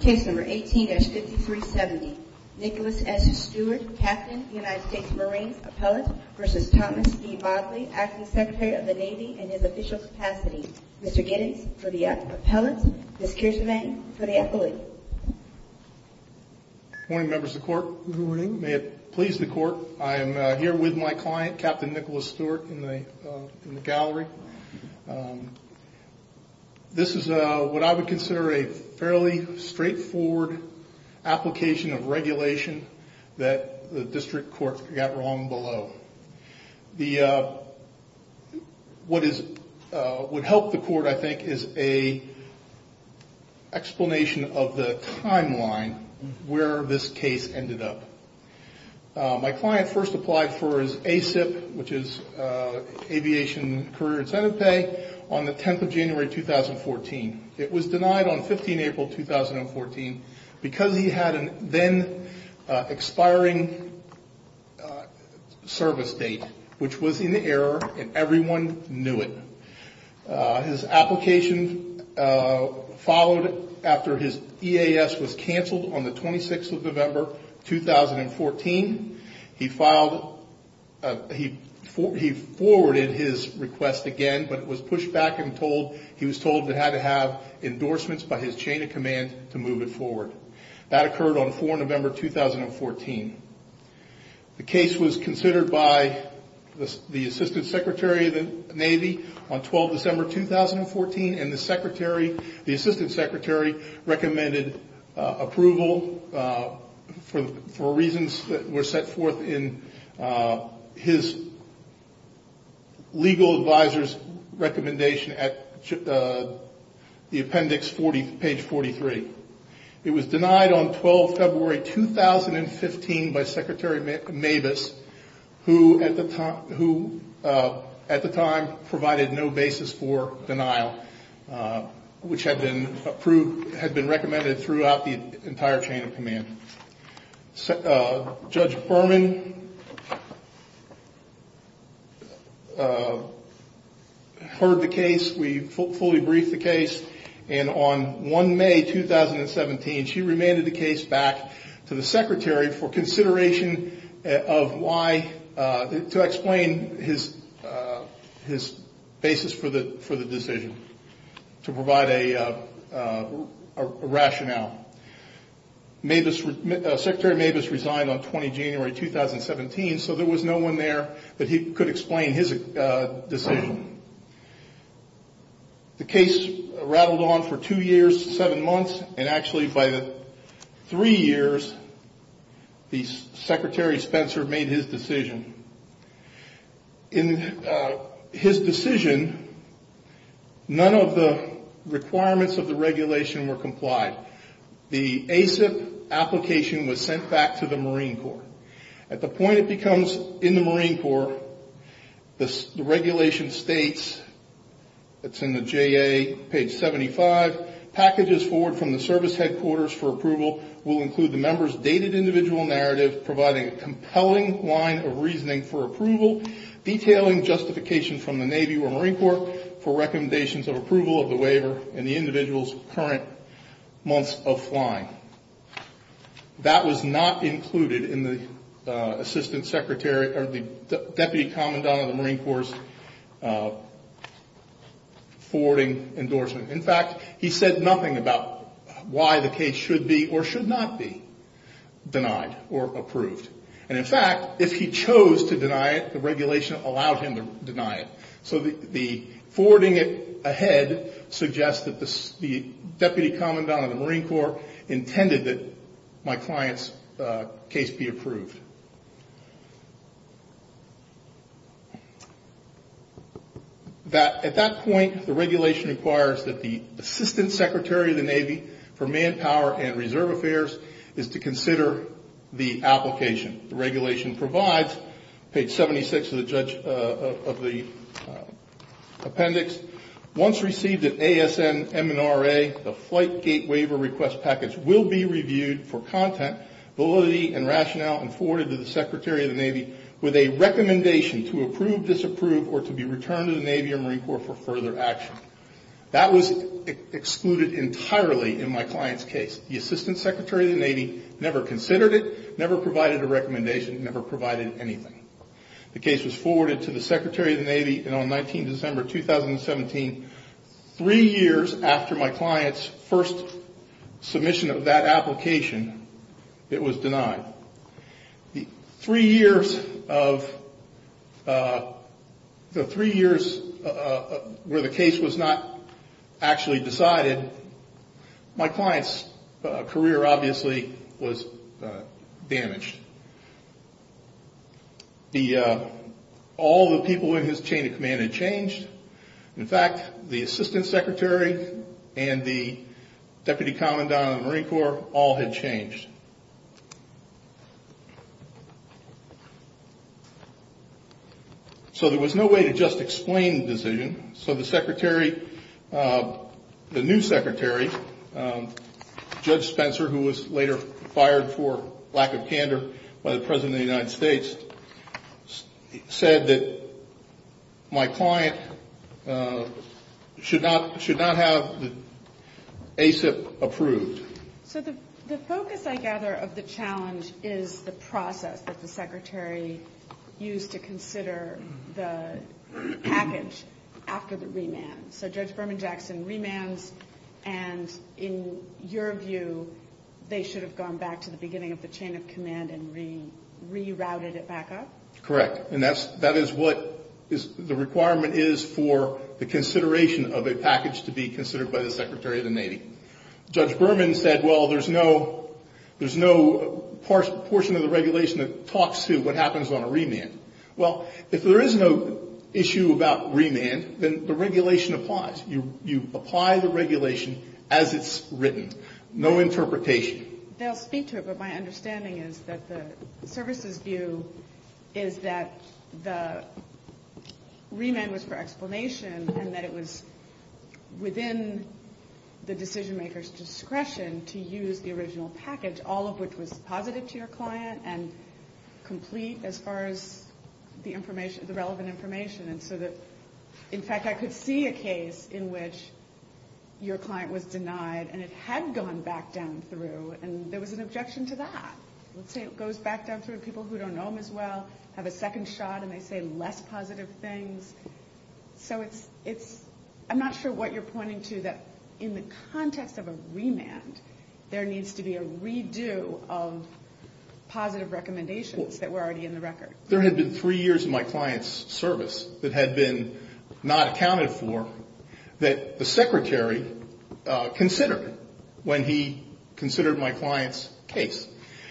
Case number 18-5370 Nicholas S. Stewart, Captain, United States Marines, Appellate, v. Thomas B. Modly, Acting Secretary of the Navy, in his official capacity. Mr. Giddings for the Appellate, Ms. Kirsten Vang for the Appellate. Good morning, members of the Court. May it please the Court, I am here with my client, Captain Nicholas Stewart, in the gallery. This is what I would consider a fairly straightforward application of regulation that the District Court got wrong below. What would help the Court, I think, is an explanation of the timeline where this case ended up. My client first applied for his ASIP, which is Aviation Career Incentive Pay, on the 10th of January 2014. It was denied on 15 April 2014 because he had a then expiring service date, which was in error and everyone knew it. His application followed after his EAS was cancelled on the 26th of November 2014. He forwarded his request again, but it was pushed back and he was told it had to have endorsements by his chain of command to move it forward. That occurred on 4 November 2014. The case was considered by the Assistant Secretary of the Navy on 12 December 2014, and the Assistant Secretary recommended approval for reasons that were set forth in his legal advisor's recommendation at the appendix, page 43. It was denied on 12 February 2015 by Secretary Mabus, who at the time provided no basis for denial, which had been recommended throughout the entire chain of command. Judge Berman heard the case. We fully briefed the case. On 1 May 2017, she remanded the case back to the Secretary for consideration to explain his basis for the decision, to provide a rationale. Secretary Mabus resigned on 20 January 2017, so there was no one there that he could explain his decision. The case rattled on for two years, seven months, and actually by three years, the Secretary Spencer made his decision. In his decision, none of the requirements of the regulation were complied. The ASIP application was sent back to the Marine Corps. At the point it becomes in the Marine Corps, the regulation states, it's in the JA, page 75, packages forward from the service headquarters for approval will include the member's dated individual narrative, providing a compelling line of reasoning for approval, detailing justification from the Navy or Marine Corps for recommendations of approval of the waiver and the individual's current months of flying. That was not included in the Deputy Commandant of the Marine Corps' forwarding endorsement. In fact, he said nothing about why the case should be or should not be denied or approved. And in fact, if he chose to deny it, the regulation allowed him to deny it. So the forwarding ahead suggests that the Deputy Commandant of the Marine Corps intended that my client's case be approved. At that point, the regulation requires that the Assistant Secretary of the Navy for Manpower and Reserve Affairs is to consider the application. The regulation provides, page 76 of the appendix, once received at ASN MNRA, the flight gate waiver request package will be reviewed for content, validity, and rationale and forwarded to the Secretary of the Navy with a recommendation to approve, disapprove, or to be returned to the Navy or Marine Corps for further action. That was excluded entirely in my client's case. The Assistant Secretary of the Navy never considered it, never provided a recommendation, never provided anything. The case was forwarded to the Secretary of the Navy, and on 19 December 2017, three years after my client's first submission of that application, it was denied. Three years where the case was not actually decided, my client's career obviously was damaged. All the people in his chain of command had changed. In fact, the Assistant Secretary and the Deputy Commandant of the Marine Corps all had changed. So there was no way to just explain the decision. So the Secretary, the new Secretary, Judge Spencer, who was later fired for lack of candor by the President of the United States, said that my client should not have the ASIP approved. So the focus, I gather, of the challenge is the process that the Secretary used to consider the package after the remand. So Judge Berman Jackson remands, and in your view, they should have gone back to the beginning of the chain of command and rerouted it back up? Correct, and that is what the requirement is for the consideration of a package to be considered by the Secretary of the Navy. Judge Berman said, well, there's no portion of the regulation that talks to what happens on a remand. Well, if there is no issue about remand, then the regulation applies. You apply the regulation as it's written, no interpretation. They'll speak to it, but my understanding is that the services view is that the remand was for explanation and that it was within the decision-maker's discretion to use the original package, all of which was positive to your client and complete as far as the relevant information. In fact, I could see a case in which your client was denied and it had gone back down through, and there was an objection to that. Let's say it goes back down through, people who don't know him as well have a second shot and they say less positive things. So I'm not sure what you're pointing to, that in the context of a remand, there needs to be a redo of positive recommendations that were already in the record. There had been three years of my client's service that had been not accounted for, that the Secretary considered when he considered my client's case.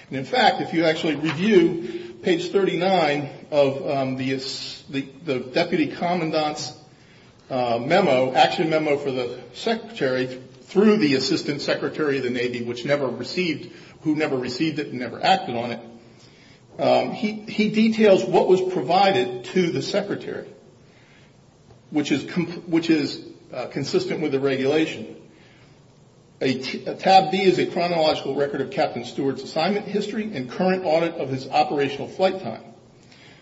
And, in fact, if you actually review page 39 of the Deputy Commandant's memo, action memo for the Secretary through the Assistant Secretary of the Navy, which never received, who never received it and never acted on it, he details what was provided to the Secretary, which is consistent with the regulation. Tab D is a chronological record of Captain Stewart's assignment history and current audit of his operational flight time.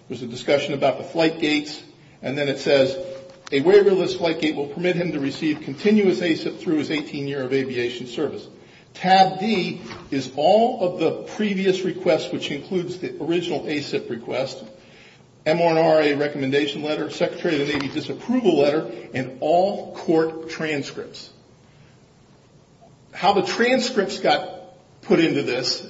There's a discussion about the flight gates, and then it says, a waiverless flight gate will permit him to receive continuous ASIP through his 18-year of aviation service. Tab D is all of the previous requests, which includes the original ASIP request, M1RA recommendation letter, Secretary of the Navy disapproval letter, and all court transcripts. How the transcripts got put into this,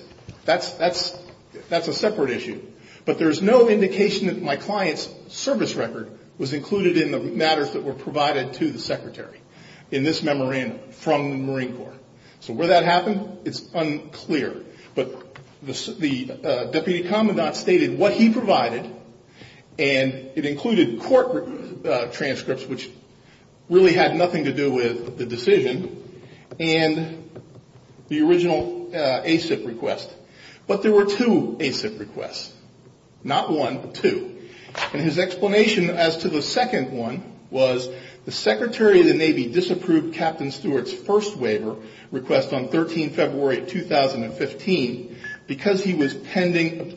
that's a separate issue. But there's no indication that my client's service record was included in the matters that were provided to the Secretary in this memorandum from the Marine Corps. So where that happened, it's unclear. But the Deputy Commandant stated what he provided, and it included court transcripts, which really had nothing to do with the decision, and the original ASIP request. But there were two ASIP requests. Not one, but two. And his explanation as to the second one was, the Secretary of the Navy disapproved Captain Stewart's first waiver request on 13 February 2015, because he was pending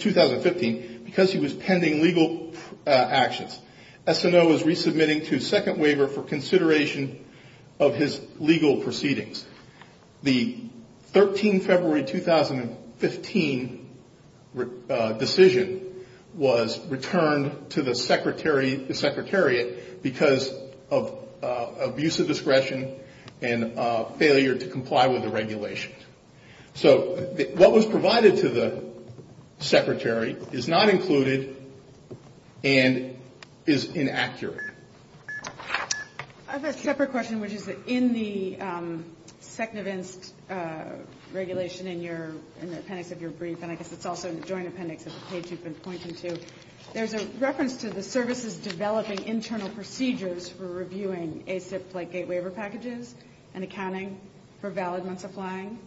legal actions. SNO was resubmitting to second waiver for consideration of his legal proceedings. The 13 February 2015 decision was returned to the Secretariat because of abuse of discretion and failure to comply with the regulations. So what was provided to the Secretary is not included and is inaccurate. I have a separate question, which is that in the secnavanced regulation in the appendix of your brief, and I guess it's also in the joint appendix of the page you've been pointing to, there's a reference to the services developing internal procedures for reviewing ASIP flight gate waiver packages and accounting for valid months of flying.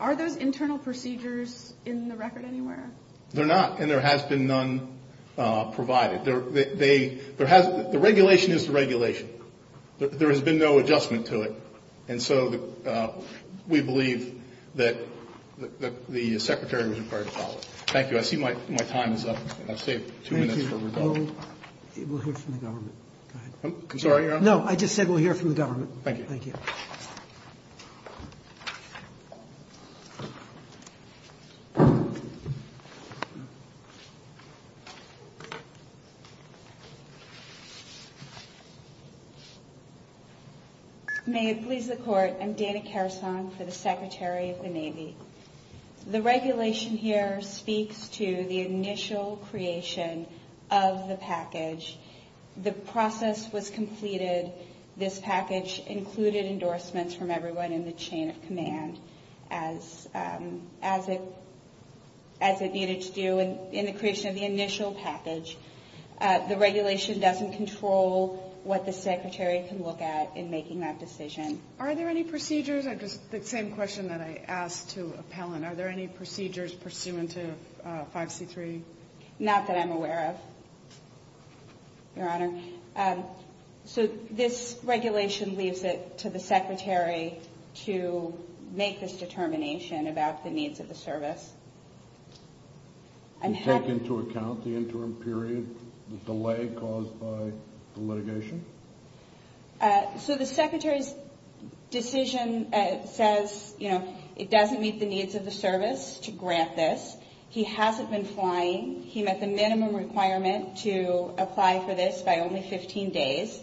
Are those internal procedures in the record anywhere? They're not, and there has been none provided. The regulation is the regulation. There has been no adjustment to it. And so we believe that the Secretary was required to follow it. Thank you. I see my time is up, and I've saved two minutes for rebuttal. We'll hear from the government. I'm sorry, Your Honor? Thank you. Thank you. Thank you. May it please the Court, I'm Dana Carusong for the Secretary of the Navy. The regulation here speaks to the initial creation of the package. The process was completed. This package included endorsements from everyone in the chain of command, as it needed to do in the creation of the initial package. The regulation doesn't control what the Secretary can look at in making that decision. Are there any procedures? It's the same question that I asked to Appellant. Are there any procedures pursuant to 5C3? Not that I'm aware of, Your Honor. So this regulation leaves it to the Secretary to make this determination about the needs of the service. Do you take into account the interim period delay caused by the litigation? So the Secretary's decision says it doesn't meet the needs of the service to grant this. He hasn't been flying. He met the minimum requirement to apply for this by only 15 days.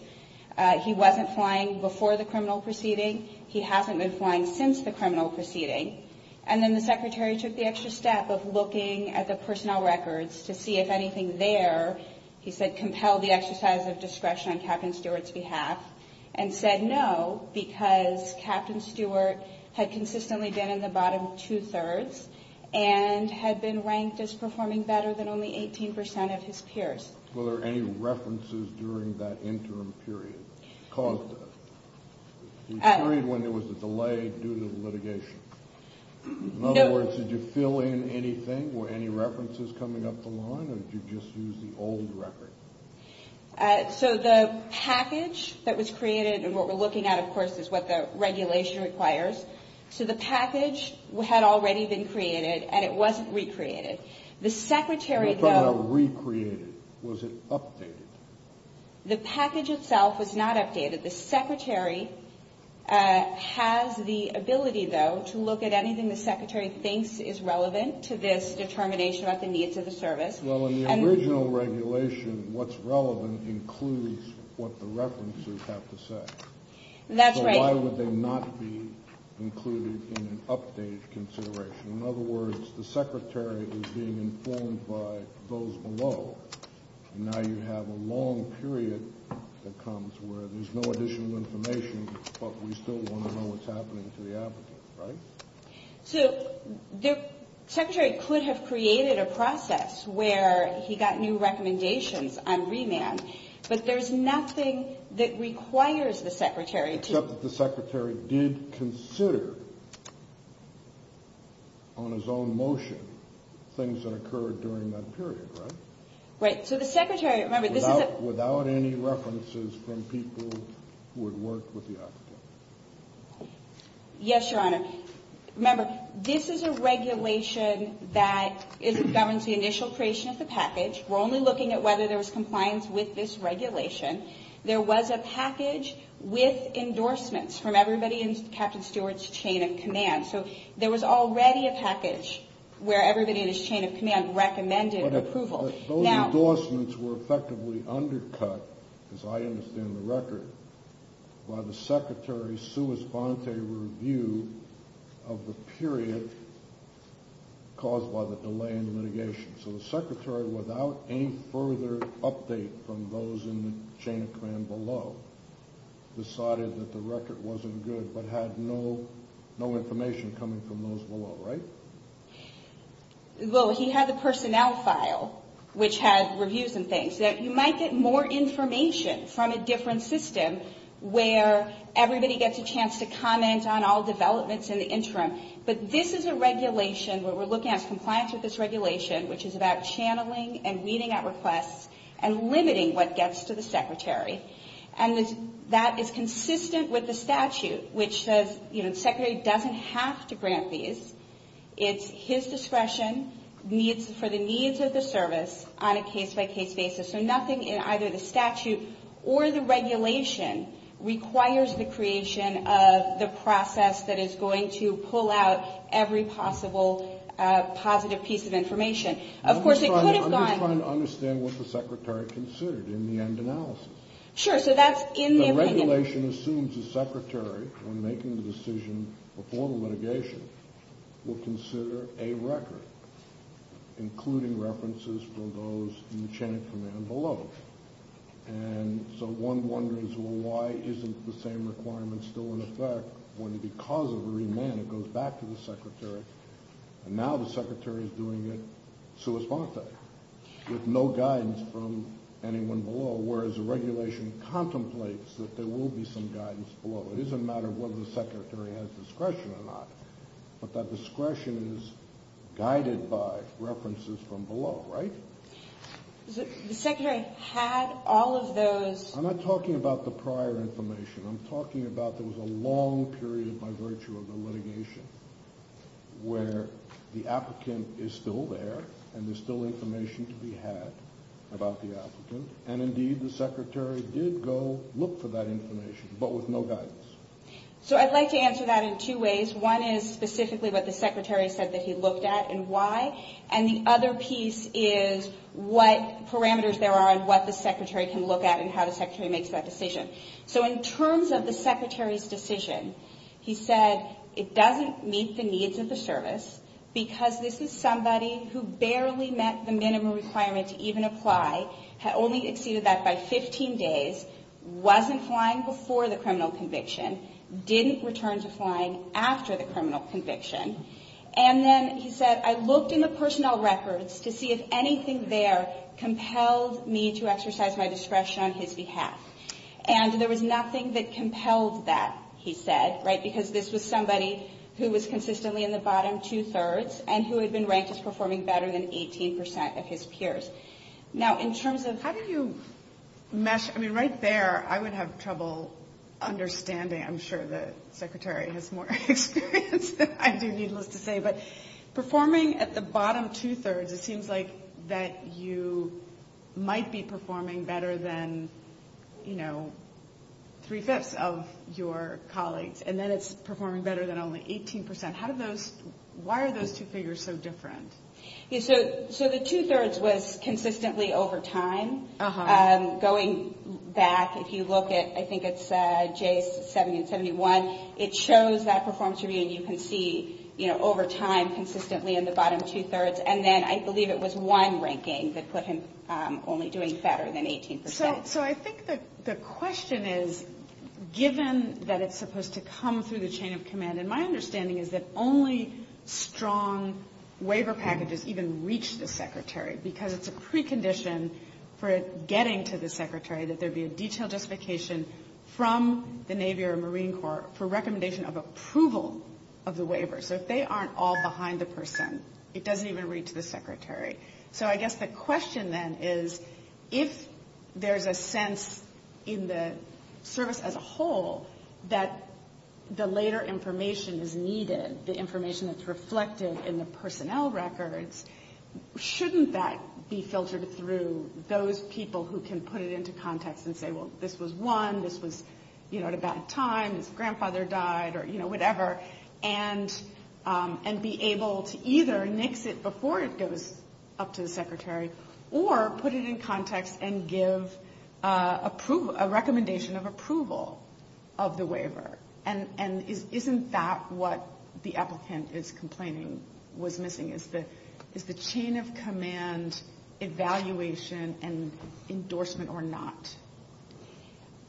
He wasn't flying before the criminal proceeding. He hasn't been flying since the criminal proceeding. And then the Secretary took the extra step of looking at the personnel records to see if anything there, he said, compelled the exercise of discretion on Captain Stewart's behalf, and said no because Captain Stewart had consistently been in the bottom two-thirds and had been ranked as performing better than only 18 percent of his peers. Were there any references during that interim period that caused this? The period when there was a delay due to the litigation. In other words, did you fill in anything? Were any references coming up the line? Or did you just use the old record? So the package that was created, and what we're looking at, of course, is what the regulation requires. So the package had already been created, and it wasn't recreated. The Secretary, though. What about recreated? Was it updated? The package itself was not updated. The Secretary has the ability, though, to look at anything the Secretary thinks is relevant to this determination about the needs of the service. Well, in the original regulation, what's relevant includes what the references have to say. That's right. Why would they not be included in an updated consideration? In other words, the Secretary is being informed by those below, and now you have a long period that comes where there's no additional information, but we still want to know what's happening to the applicant, right? So the Secretary could have created a process where he got new recommendations on remand, but there's nothing that requires the Secretary to. Except that the Secretary did consider on his own motion things that occurred during that period, right? Right. So the Secretary, remember, this is a... Without any references from people who had worked with the applicant. Yes, Your Honor. Remember, this is a regulation that governs the initial creation of the package. We're only looking at whether there was compliance with this regulation. There was a package with endorsements from everybody in Captain Stewart's chain of command. So there was already a package where everybody in his chain of command recommended approval. Those endorsements were effectively undercut, as I understand the record, by the Secretary's sua sponte review of the period caused by the delay in the litigation. So the Secretary, without any further update from those in the chain of command below, decided that the record wasn't good but had no information coming from those below, right? Well, he had the personnel file, which had reviews and things. You might get more information from a different system where everybody gets a chance to comment on all developments in the interim. But this is a regulation where we're looking at compliance with this regulation, which is about channeling and weeding out requests and limiting what gets to the Secretary. And that is consistent with the statute, which says the Secretary doesn't have to grant these. It's his discretion for the needs of the service on a case-by-case basis. So nothing in either the statute or the regulation requires the creation of the process that is going to pull out every possible positive piece of information. Of course, it could have gone. I'm just trying to understand what the Secretary considered in the end analysis. Sure, so that's in the opinion. The regulation assumes the Secretary, when making the decision before the litigation, will consider a record, including references from those in the chain of command below. And so one wonders, well, why isn't the same requirement still in effect when because of a remand it goes back to the Secretary, and now the Secretary is doing it sua sponta, with no guidance from anyone below, whereas the regulation contemplates that there will be some guidance below. It isn't a matter of whether the Secretary has discretion or not, but that discretion is guided by references from below, right? The Secretary had all of those. I'm not talking about the prior information. I'm talking about there was a long period, by virtue of the litigation, where the applicant is still there and there's still information to be had about the applicant. And indeed, the Secretary did go look for that information, but with no guidance. So I'd like to answer that in two ways. One is specifically what the Secretary said that he looked at and why. And the other piece is what parameters there are and what the Secretary can look at and how the Secretary makes that decision. So in terms of the Secretary's decision, he said it doesn't meet the needs of the service because this is somebody who barely met the minimum requirement to even apply, had only exceeded that by 15 days, wasn't flying before the criminal conviction, didn't return to flying after the criminal conviction. And then he said, I looked in the personnel records to see if anything there compelled me to exercise my discretion on his behalf. And there was nothing that compelled that, he said, right, because this was somebody who was consistently in the bottom two-thirds and who had been ranked as performing better than 18 percent of his peers. Now, in terms of – How do you – I mean, right there, I would have trouble understanding. I'm sure the Secretary has more experience than I do, needless to say. But performing at the bottom two-thirds, it seems like that you might be performing better than, you know, three-fifths of your colleagues, and then it's performing better than only 18 percent. How did those – why are those two figures so different? So the two-thirds was consistently over time. Going back, if you look at, I think it's J70 and 71, it shows that performance review, and you can see, you know, over time consistently in the bottom two-thirds. And then I believe it was one ranking that put him only doing better than 18 percent. So I think the question is, given that it's supposed to come through the chain of command, and my understanding is that only strong waiver packages even reach the Secretary because it's a precondition for it getting to the Secretary that there be a detailed justification from the Navy or Marine Corps for recommendation of approval of the waiver. So if they aren't all behind the person, it doesn't even reach the Secretary. So I guess the question then is, if there's a sense in the service as a whole that the later information is needed, the information that's reflected in the personnel records, shouldn't that be filtered through those people who can put it into context and say, well, this was one, this was, you know, at a bad time, his grandfather died or, you know, whatever, and be able to either nix it before it goes up to the Secretary or put it in context And isn't that what the applicant is complaining was missing? Is the chain of command evaluation and endorsement or not?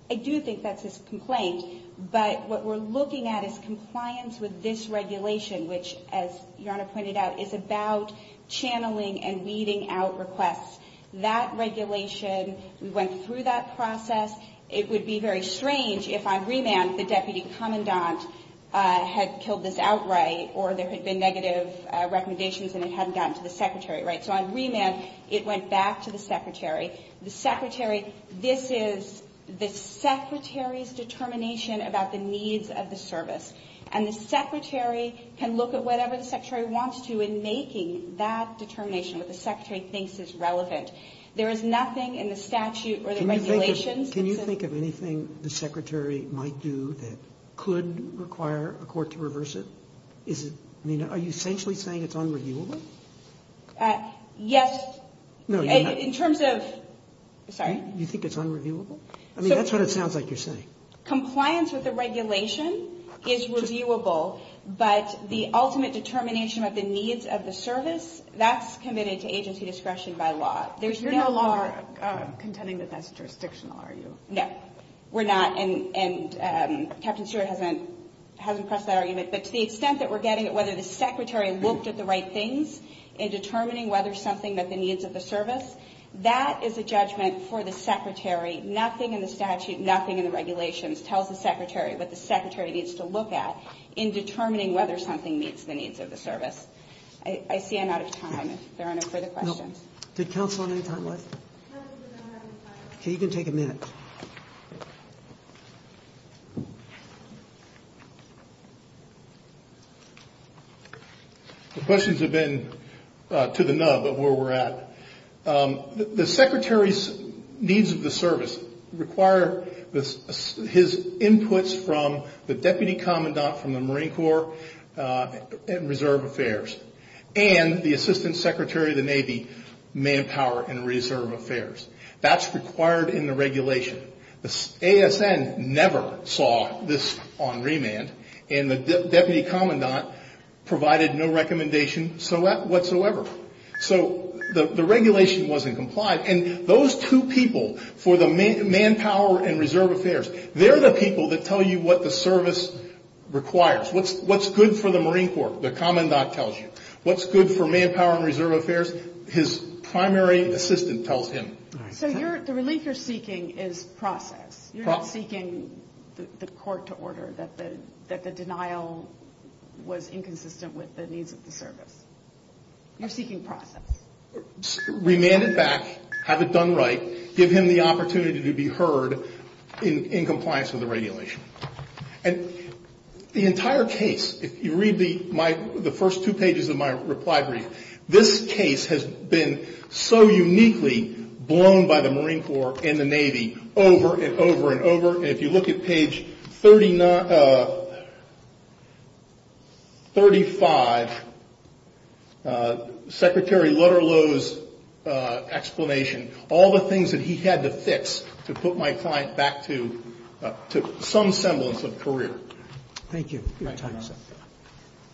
I do think that's his complaint, but what we're looking at is compliance with this regulation, which as Your Honor pointed out, is about channeling and weeding out requests. That regulation, we went through that process. It would be very strange if on remand the Deputy Commandant had killed this outright or there had been negative recommendations and it hadn't gotten to the Secretary, right? So on remand, it went back to the Secretary. The Secretary, this is the Secretary's determination about the needs of the service. And the Secretary can look at whatever the Secretary wants to in making that determination, what the Secretary thinks is relevant. There is nothing in the statute or the regulations. Can you think of anything the Secretary might do that could require a court to reverse it? I mean, are you essentially saying it's unreviewable? Yes. No, you're not. In terms of, sorry. You think it's unreviewable? I mean, that's what it sounds like you're saying. Compliance with the regulation is reviewable, but the ultimate determination of the needs of the service, that's committed to agency discretion by law. You're no longer contending that that's jurisdictional, are you? No, we're not. And Captain Stewart hasn't pressed that argument. But to the extent that we're getting at whether the Secretary looked at the right things in determining whether something met the needs of the service, that is a judgment for the Secretary. Nothing in the statute, nothing in the regulations tells the Secretary what the Secretary needs to look at in determining whether something meets the needs of the service. I see I'm out of time if there are no further questions. Did counsel have any time left? Okay, you can take a minute. The questions have been to the nub of where we're at. The Secretary's needs of the service require his inputs from the Deputy Commandant from the Marine Corps and Reserve Affairs, and the Assistant Secretary of the Navy, Manpower and Reserve Affairs. That's required in the regulation. The ASN never saw this on remand, and the Deputy Commandant provided no recommendation whatsoever. So the regulation wasn't complied, and those two people for the Manpower and Reserve Affairs, they're the people that tell you what the service requires. What's good for the Marine Corps? The Commandant tells you. What's good for Manpower and Reserve Affairs? His primary assistant tells him. So the relief you're seeking is process. You're not seeking the court to order that the denial was inconsistent with the needs of the service. You're seeking process. Remand it back. Have it done right. Give him the opportunity to be heard in compliance with the regulation. And the entire case, if you read the first two pages of my reply brief, this case has been so uniquely blown by the Marine Corps and the Navy over and over and over. And if you look at page 35, Secretary Lutterloh's explanation, all the things that he had to fix to put my client back to some semblance of career. Thank you.